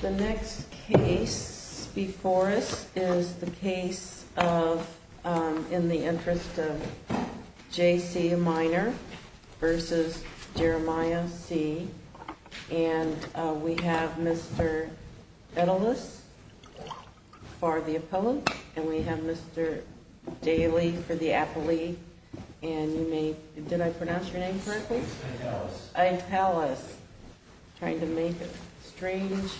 The next case before us is the case of, in the interest of J.C. Minor vs. Jeremiah C., and we have Mr. Edelis for the appellant, and we have Mr. Daly for the appellee, and you may, did I pronounce your name correctly? Edelis. Edelis. Trying to make a strange,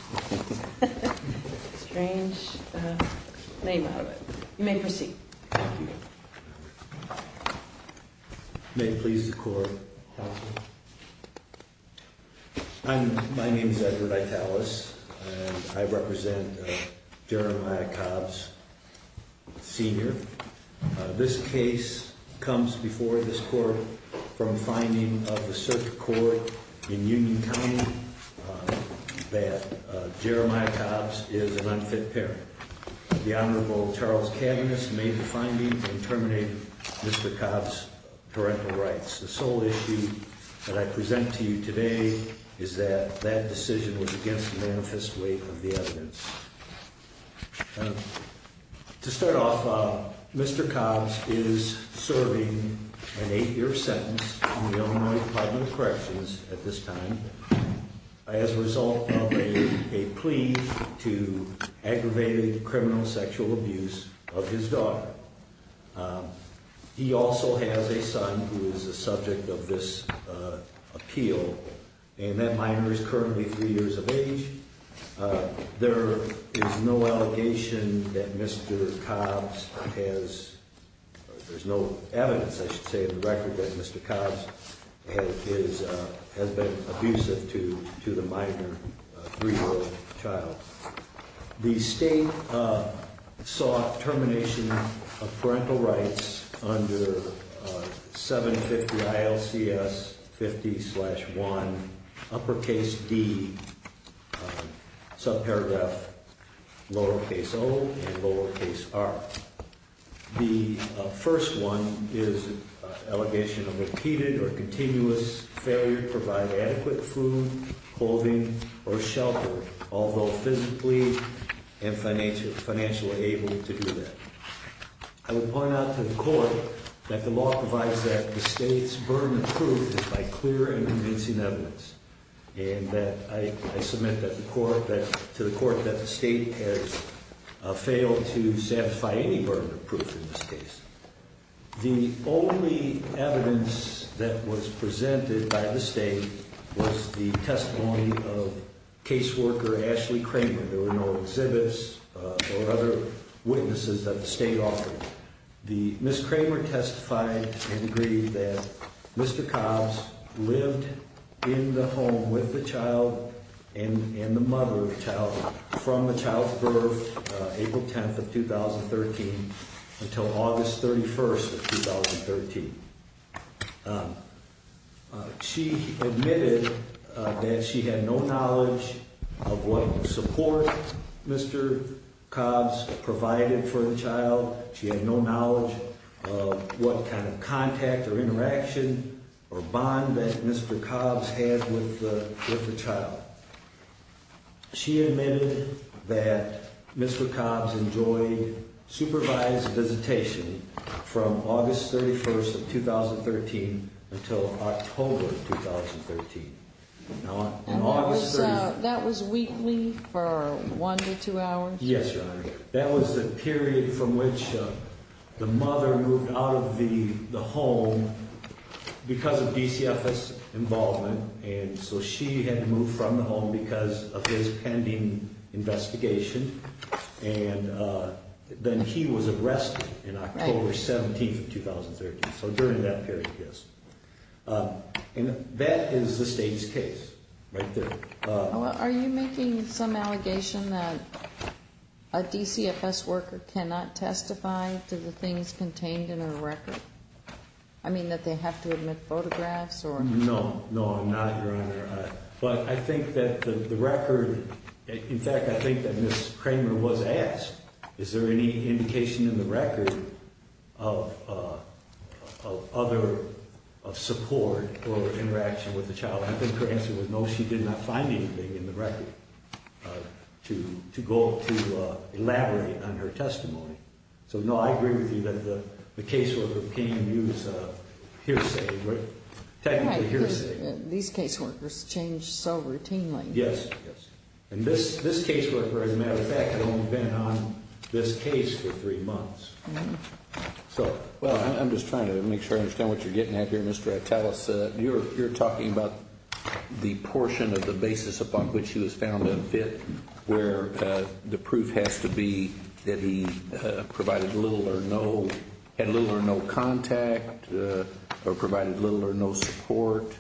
strange name out of it. You may proceed. Thank you. May it please the court, counsel. I'm, my name's Edward Edelis, and I represent Jeremiah Cobb's senior. This case comes before this court from finding of the circuit court in Union County that Jeremiah Cobb's is an unfit parent. The Honorable Charles Kavanagh made the finding and terminated Mr. Cobb's parental rights. The sole issue that I present to you today is that that decision was against the manifest weight of the evidence. To start off, Mr. Cobb's is serving an eight year sentence in the Illinois Department of Corrections at this time as a result of a plea to aggravated criminal sexual abuse of his daughter. He also has a son who is the subject of this appeal, and that minor is currently three years of age. There is no allegation that Mr. Cobb's has, there's no evidence, I should say, of the record that Mr. Cobb's has been abusive to the minor three year old child. The state sought termination of parental rights under 750 ILCS 50 slash 1, uppercase D, subparagraph lowercase o and lowercase r. The first one is an allegation of repeated or continuous failure to provide adequate food, clothing, or shelter, although physically and financially able to do that. I would point out to the court that the law provides that the state's burden of proof is by clear and convincing evidence, and that I submit to the court that the state has failed to satisfy any burden of proof in this case. The only evidence that was presented by the state was the testimony of caseworker Ashley Kramer. There were no exhibits or other witnesses that the state offered. Ms. Kramer testified and agreed that Mr. Cobb's lived in the home with the child and the mother of the child from the child's birth, April 10th of 2013, until August 31st of 2013. She admitted that she had no knowledge of what support Mr. Cobb's provided for the child. She had no knowledge of what kind of contact or interaction or bond that Mr. Cobb's had with the child. She admitted that Mr. Cobb's enjoyed supervised visitation from August 31st of 2013 until October of 2013. Now, on August 31st... That was weekly for one to two hours? Yes, Your Honor. That was the period from which the mother moved out of the home because of DCFS involvement, and so she had to move from the home because of his pending investigation. And then he was arrested on October 17th of 2013, so during that period, yes. And that is the state's case right there. Are you making some allegation that a DCFS worker cannot testify to the things contained in her record? I mean, that they have to admit photographs or... No, no, I'm not, Your Honor. But I think that the record... In fact, I think that Ms. Kramer was asked, is there any indication in the record of other support or interaction with the child? I think her answer was no, she did not find anything in the record to elaborate on her testimony. So, no, I agree with you that the caseworker can't use hearsay, right? Technically, hearsay. These caseworkers change so routinely. Yes, yes. And this caseworker, as a matter of fact, had only been on this case for three months. So, well, I'm just trying to make sure I understand what you're getting at here, Mr. Attalos. You're talking about the portion of the basis upon which he was found unfit where the proof has to be that he provided little or no... had little or no contact or provided little or no support.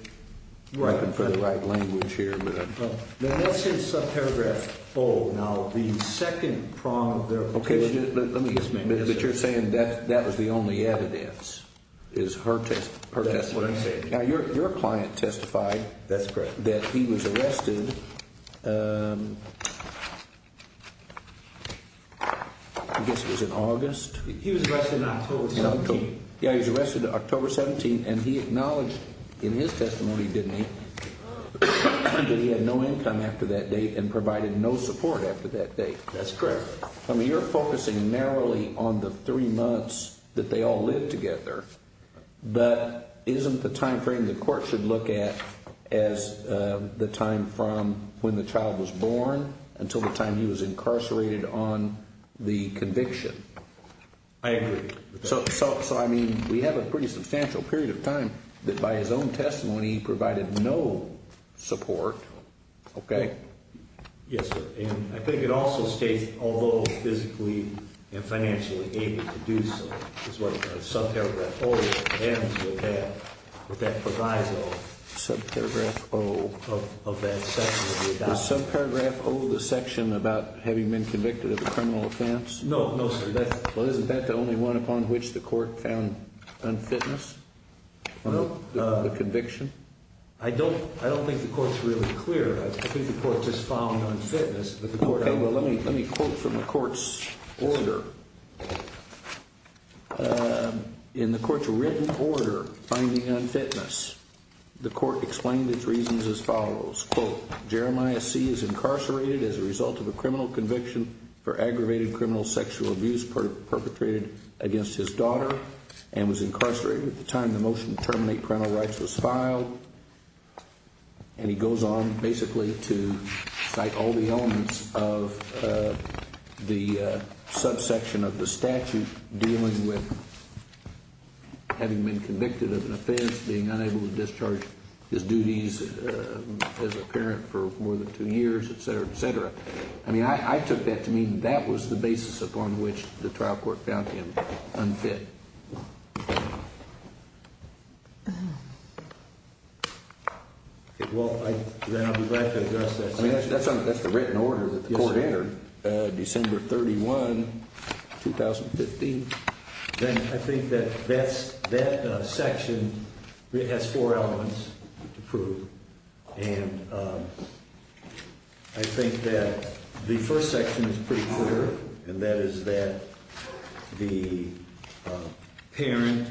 I'm looking for the right language here. Now, that's in subparagraph O. Now, the second prong of their... Okay, let me just make this clear. But you're saying that that was the only evidence, is her testimony? That's what I'm saying. Now, your client testified... That's correct. ...that he was arrested, I guess it was in August? He was arrested on October 17th. Yeah, he was arrested October 17th, and he acknowledged in his testimony, didn't he, that he had no income after that date and provided no support after that date. That's correct. I mean, you're focusing narrowly on the three months that they all lived together. But isn't the time frame the court should look at as the time from when the child was born until the time he was incarcerated on the conviction? I agree. So, I mean, we have a pretty substantial period of time that by his own testimony he provided no support, okay? Yes, sir. And I think it also states, although physically and financially able to do so, is what subparagraph O ends with that, with that proviso of that section. Does subparagraph O of the section about having been convicted of a criminal offense? No, no, sir. Well, isn't that the only one upon which the court found unfitness from the conviction? I don't think the court's really clear. I think the court just found unfitness. Okay, well, let me quote from the court's order. In the court's written order finding unfitness, the court explained its reasons as follows. Quote, Jeremiah C is incarcerated as a result of a criminal conviction for aggravated criminal sexual abuse perpetrated against his daughter and was incarcerated at the time the motion to terminate parental rights was filed. And he goes on basically to cite all the elements of the subsection of the statute dealing with having been convicted of an offense, being unable to discharge his duties as a parent for more than two years, et cetera, et cetera. I mean, I took that to mean that was the basis upon which the trial court found him unfit. Well, then I'll be glad to address that. I mean, that's the written order that the court entered. December 31, 2015. Then I think that that section has four elements to prove. And I think that the first section is pretty clear, and that is that the parent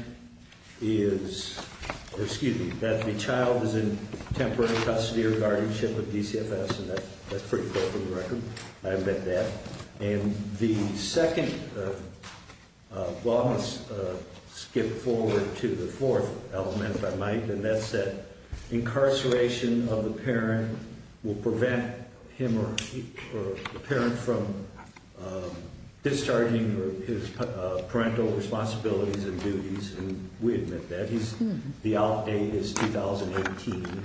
is – or excuse me, that the child is in temporary custody or guardianship of DCFS, and that's pretty clear from the record. I admit that. And the second – well, I'm going to skip forward to the fourth element, if I might, and that's that incarceration of the parent will prevent him or the parent from discharging his parental responsibilities and duties, and we admit that. The outdate is 2018.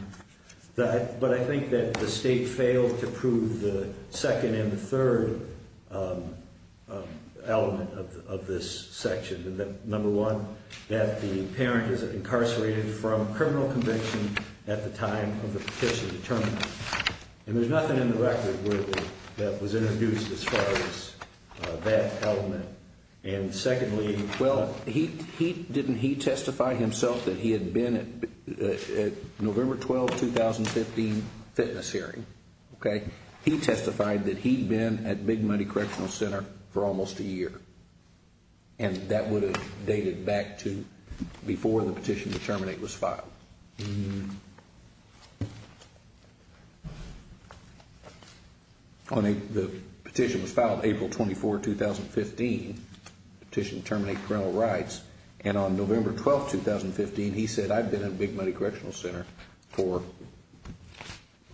But I think that the state failed to prove the second and the third element of this section, and that, number one, that the parent is incarcerated from criminal conviction at the time of the petition to terminate. And there's nothing in the record where that was introduced as far as that element. And secondly – Well, didn't he testify himself that he had been at November 12, 2015, fitness hearing? Okay. He testified that he'd been at Big Money Correctional Center for almost a year, and that would have dated back to before the petition to terminate was filed. Hmm. The petition was filed April 24, 2015, the petition to terminate parental rights, and on November 12, 2015, he said, I've been at Big Money Correctional Center for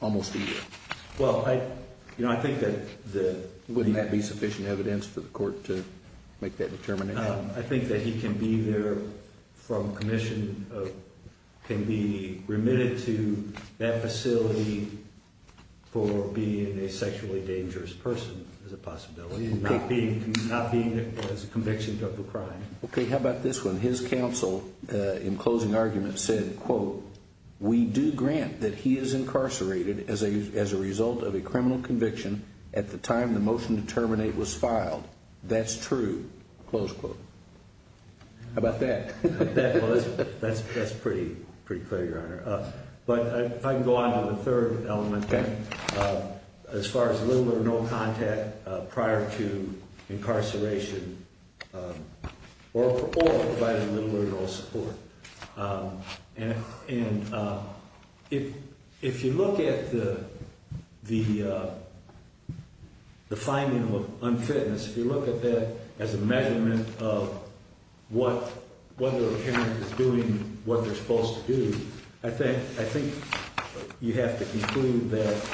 almost a year. Well, I think that the – Wouldn't that be sufficient evidence for the court to make that determination? I think that he can be there from commission, can be remitted to that facility for being a sexually dangerous person as a possibility, not being as a conviction of a crime. Okay, how about this one? in closing argument said, quote, we do grant that he is incarcerated as a result of a criminal conviction at the time the motion to terminate was filed. That's true, close quote. How about that? But if I can go on to the third element, as far as little or no contact prior to incarceration or providing little or no support. And if you look at the finding of unfitness, if you look at that as a measurement of whether a parent is doing what they're supposed to do, I think you have to conclude that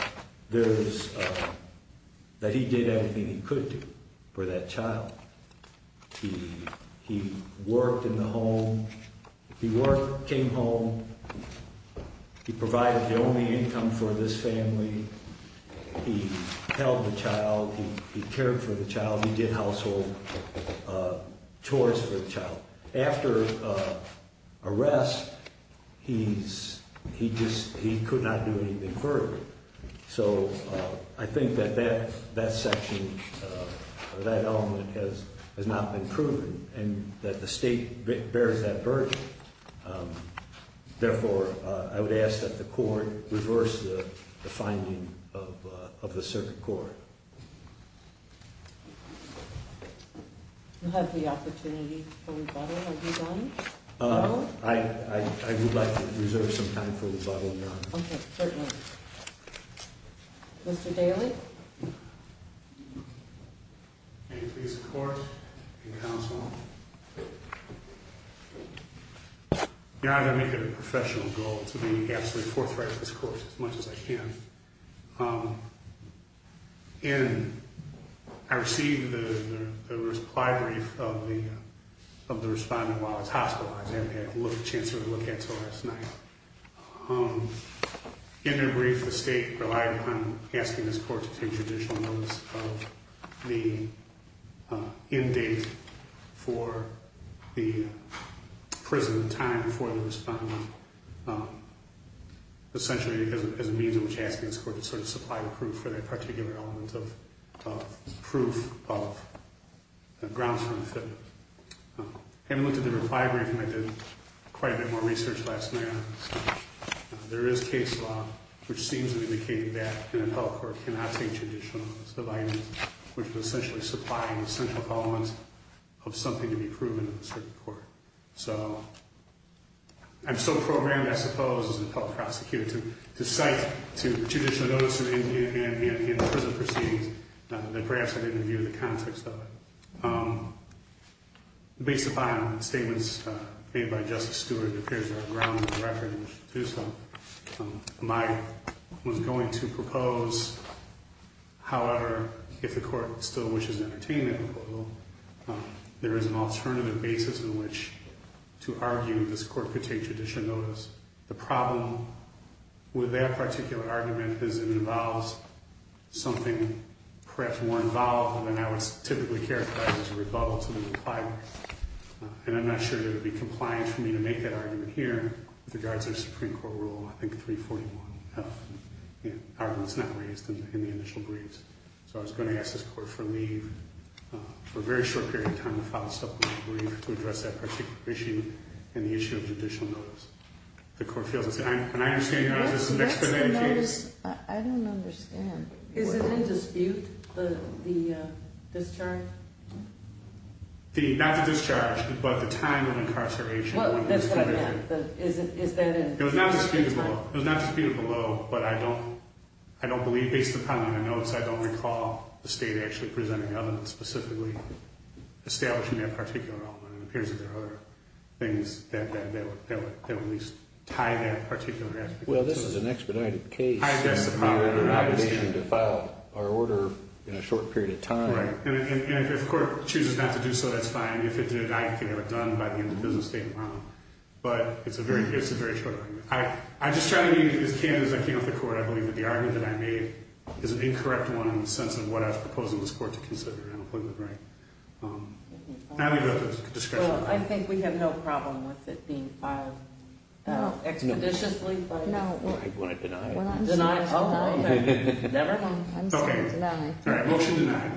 there is – that he did everything he could do for that child. He worked in the home, he worked, came home, he provided the only income for this family, he held the child, he cared for the child, he did household chores for the child. After arrest, he's – he just – he could not do anything further. So I think that that section, that element has not been proven and that the state bears that burden. Therefore, I would ask that the court reverse the finding of the circuit court. You have the opportunity for rebuttal, have you done? I would like to reserve some time for rebuttal, Your Honor. Okay, certainly. Mr. Daly? May it please the court and counsel. Your Honor, I make it a professional goal to be absolutely forthright with this court as much as I can. In – I received the reply brief of the respondent while I was hospitalized. I haven't had a chance to look at it until last night. In their brief, the state relied upon asking this court to take judicial notice of the end date for the prison time for the respondent, essentially as a means in which asking this court to sort of supply the proof for that particular element of proof of grounds for unfitness. Having looked at the reply brief, I did quite a bit more research last night on this. There is case law which seems to indicate that an appellate court cannot take judicial notice of items which are essentially supplying essential elements of something to be proven in a circuit court. So I'm so programmed, I suppose, as an appellate prosecutor to cite judicial notice in prison proceedings that perhaps I didn't review the context of it. Based upon statements made by Justice Stewart, it appears there are grounds of reference to some. I was going to propose, however, if the court still wishes an entertainment proposal, there is an alternative basis in which to argue this court could take judicial notice. The problem with that particular argument is it involves something perhaps more involved than I would typically characterize as a rebuttal to the reply brief. And I'm not sure that it would be compliant for me to make that argument here with regards to a Supreme Court rule, I think 341 of the arguments not raised in the initial briefs. So I was going to ask this court for leave for a very short period of time to file a supplementary brief to address that particular issue and the issue of judicial notice. The court fails to say, and I understand you have this in the expedited case. I don't understand. Is it in dispute, the discharge? Not the discharge, but the time of incarceration. Is that in dispute? It was not disputed below, but I don't believe, based upon the notes, I don't recall the state actually presenting evidence specifically establishing that particular element. It appears that there are other things that would at least tie that particular aspect. Well, this is an expedited case. That's the problem. We have an obligation to file our order in a short period of time. And if the court chooses not to do so, that's fine. If it did, I can have it done by the end of the business statement. But it's a very short argument. I'm just trying to be as candid as I can with the court. I believe that the argument that I made is an incorrect one in the sense of what I was proposing this court to consider. I don't believe I'm right. I'll leave it up to discretion. Well, I think we have no problem with it being filed expeditiously. No. When I deny it. Deny? Oh, never? I'm sorry. Deny. All right. Motion denied.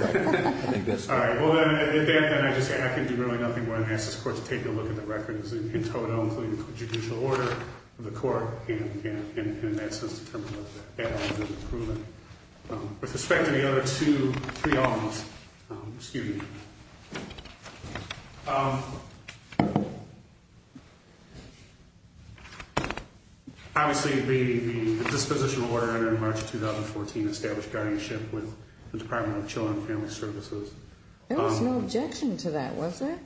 Right. I think that's fair. All right. Well, then I can do really nothing more than ask this court to take a look at the records in total, including the judicial order of the court, and, in that sense, determine whether or not that argument is proven. With respect to the other two, three alms. Excuse me. Obviously, the dispositional order in March 2014 established guardianship with the Department of Children and Family Services. There was no objection to that, was there?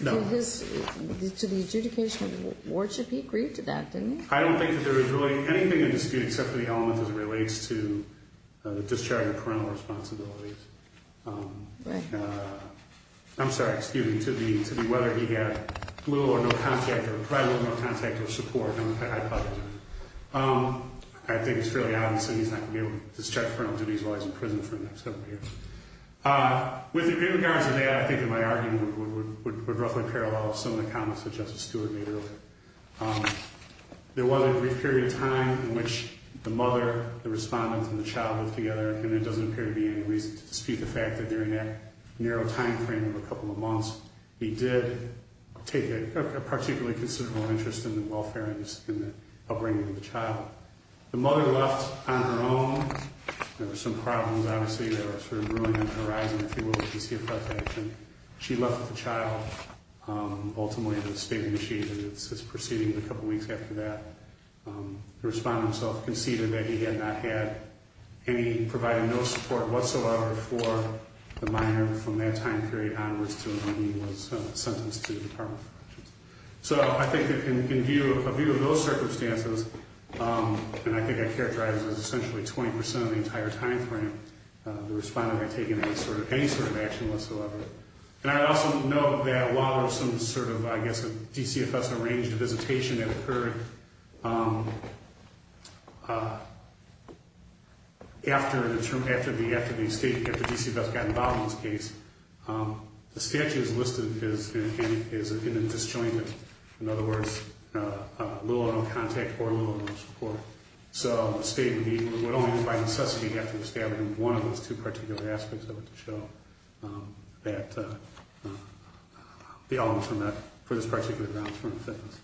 No. To the adjudication of the award, should he agree to that, didn't he? I don't think that there was really anything in dispute except for the element as it relates to the discharging of parental responsibilities. Right. I'm sorry. Excuse me. To the whether he had little or no contact or probably little or no contact or support. I apologize. I think it's fairly obvious that he's not going to be able to discharge parental duties while he's in prison for the next several years. With regards to that, I think that my argument would roughly parallel some of the comments that Justice Stewart made earlier. There was a brief period of time in which the mother, the respondent, and the child lived together, and there doesn't appear to be any reason to dispute the fact that during that narrow time frame of a couple of months, he did take a particularly considerable interest in the welfare and upbringing of the child. The mother left on her own. There were some problems, obviously, that were sort of brewing on the horizon, if you will, if you see a front page. She left with the child. Ultimately, the state of the machine is proceeding a couple of weeks after that. The respondent himself conceded that he had not had any, provided no support whatsoever for the minor from that time period onwards to when he was sentenced to the Department of Corrections. So I think in view of those circumstances, and I think I characterized it as essentially 20% of the entire time frame, the respondent had taken any sort of action whatsoever. And I also note that while there was some sort of, I guess, a DCFS-arranged visitation that occurred after the state, after DCFS got involved in this case, the statute as listed is in disjointment. In other words, little or no contact or little or no support. So the state would only, if by necessity, have to establish one of those two particular aspects of it to show that the elements were met for this particular grounds for offense.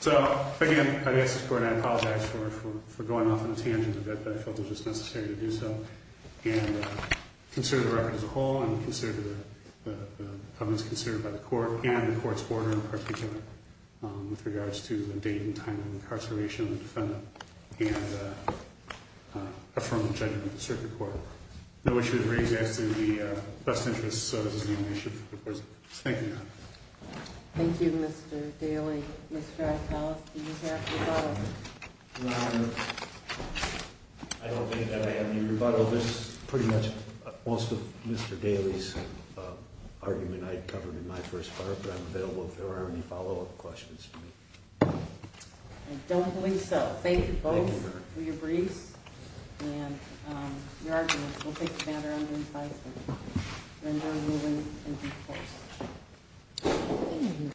So, again, I ask this Court, and I apologize for going off on a tangent a bit, but I felt it was just necessary to do so, and consider the record as a whole, and consider the evidence considered by the Court, and the Court's order in particular, with regards to the date and time of incarceration of the defendant, and affirm the judgment of the Circuit Court. No issues raised as to the best interests of this nomination. Thank you, Your Honor. Thank you, Mr. Daly. Mr. Atalos, do you have rebuttal? Your Honor, I don't think that I have any rebuttal. Well, this is pretty much most of Mr. Daly's argument I covered in my first part, but I'm available if there are any follow-up questions. I don't believe so. Thank you both for your briefs and your arguments. We'll take the matter under investigation. Render ruling in due course.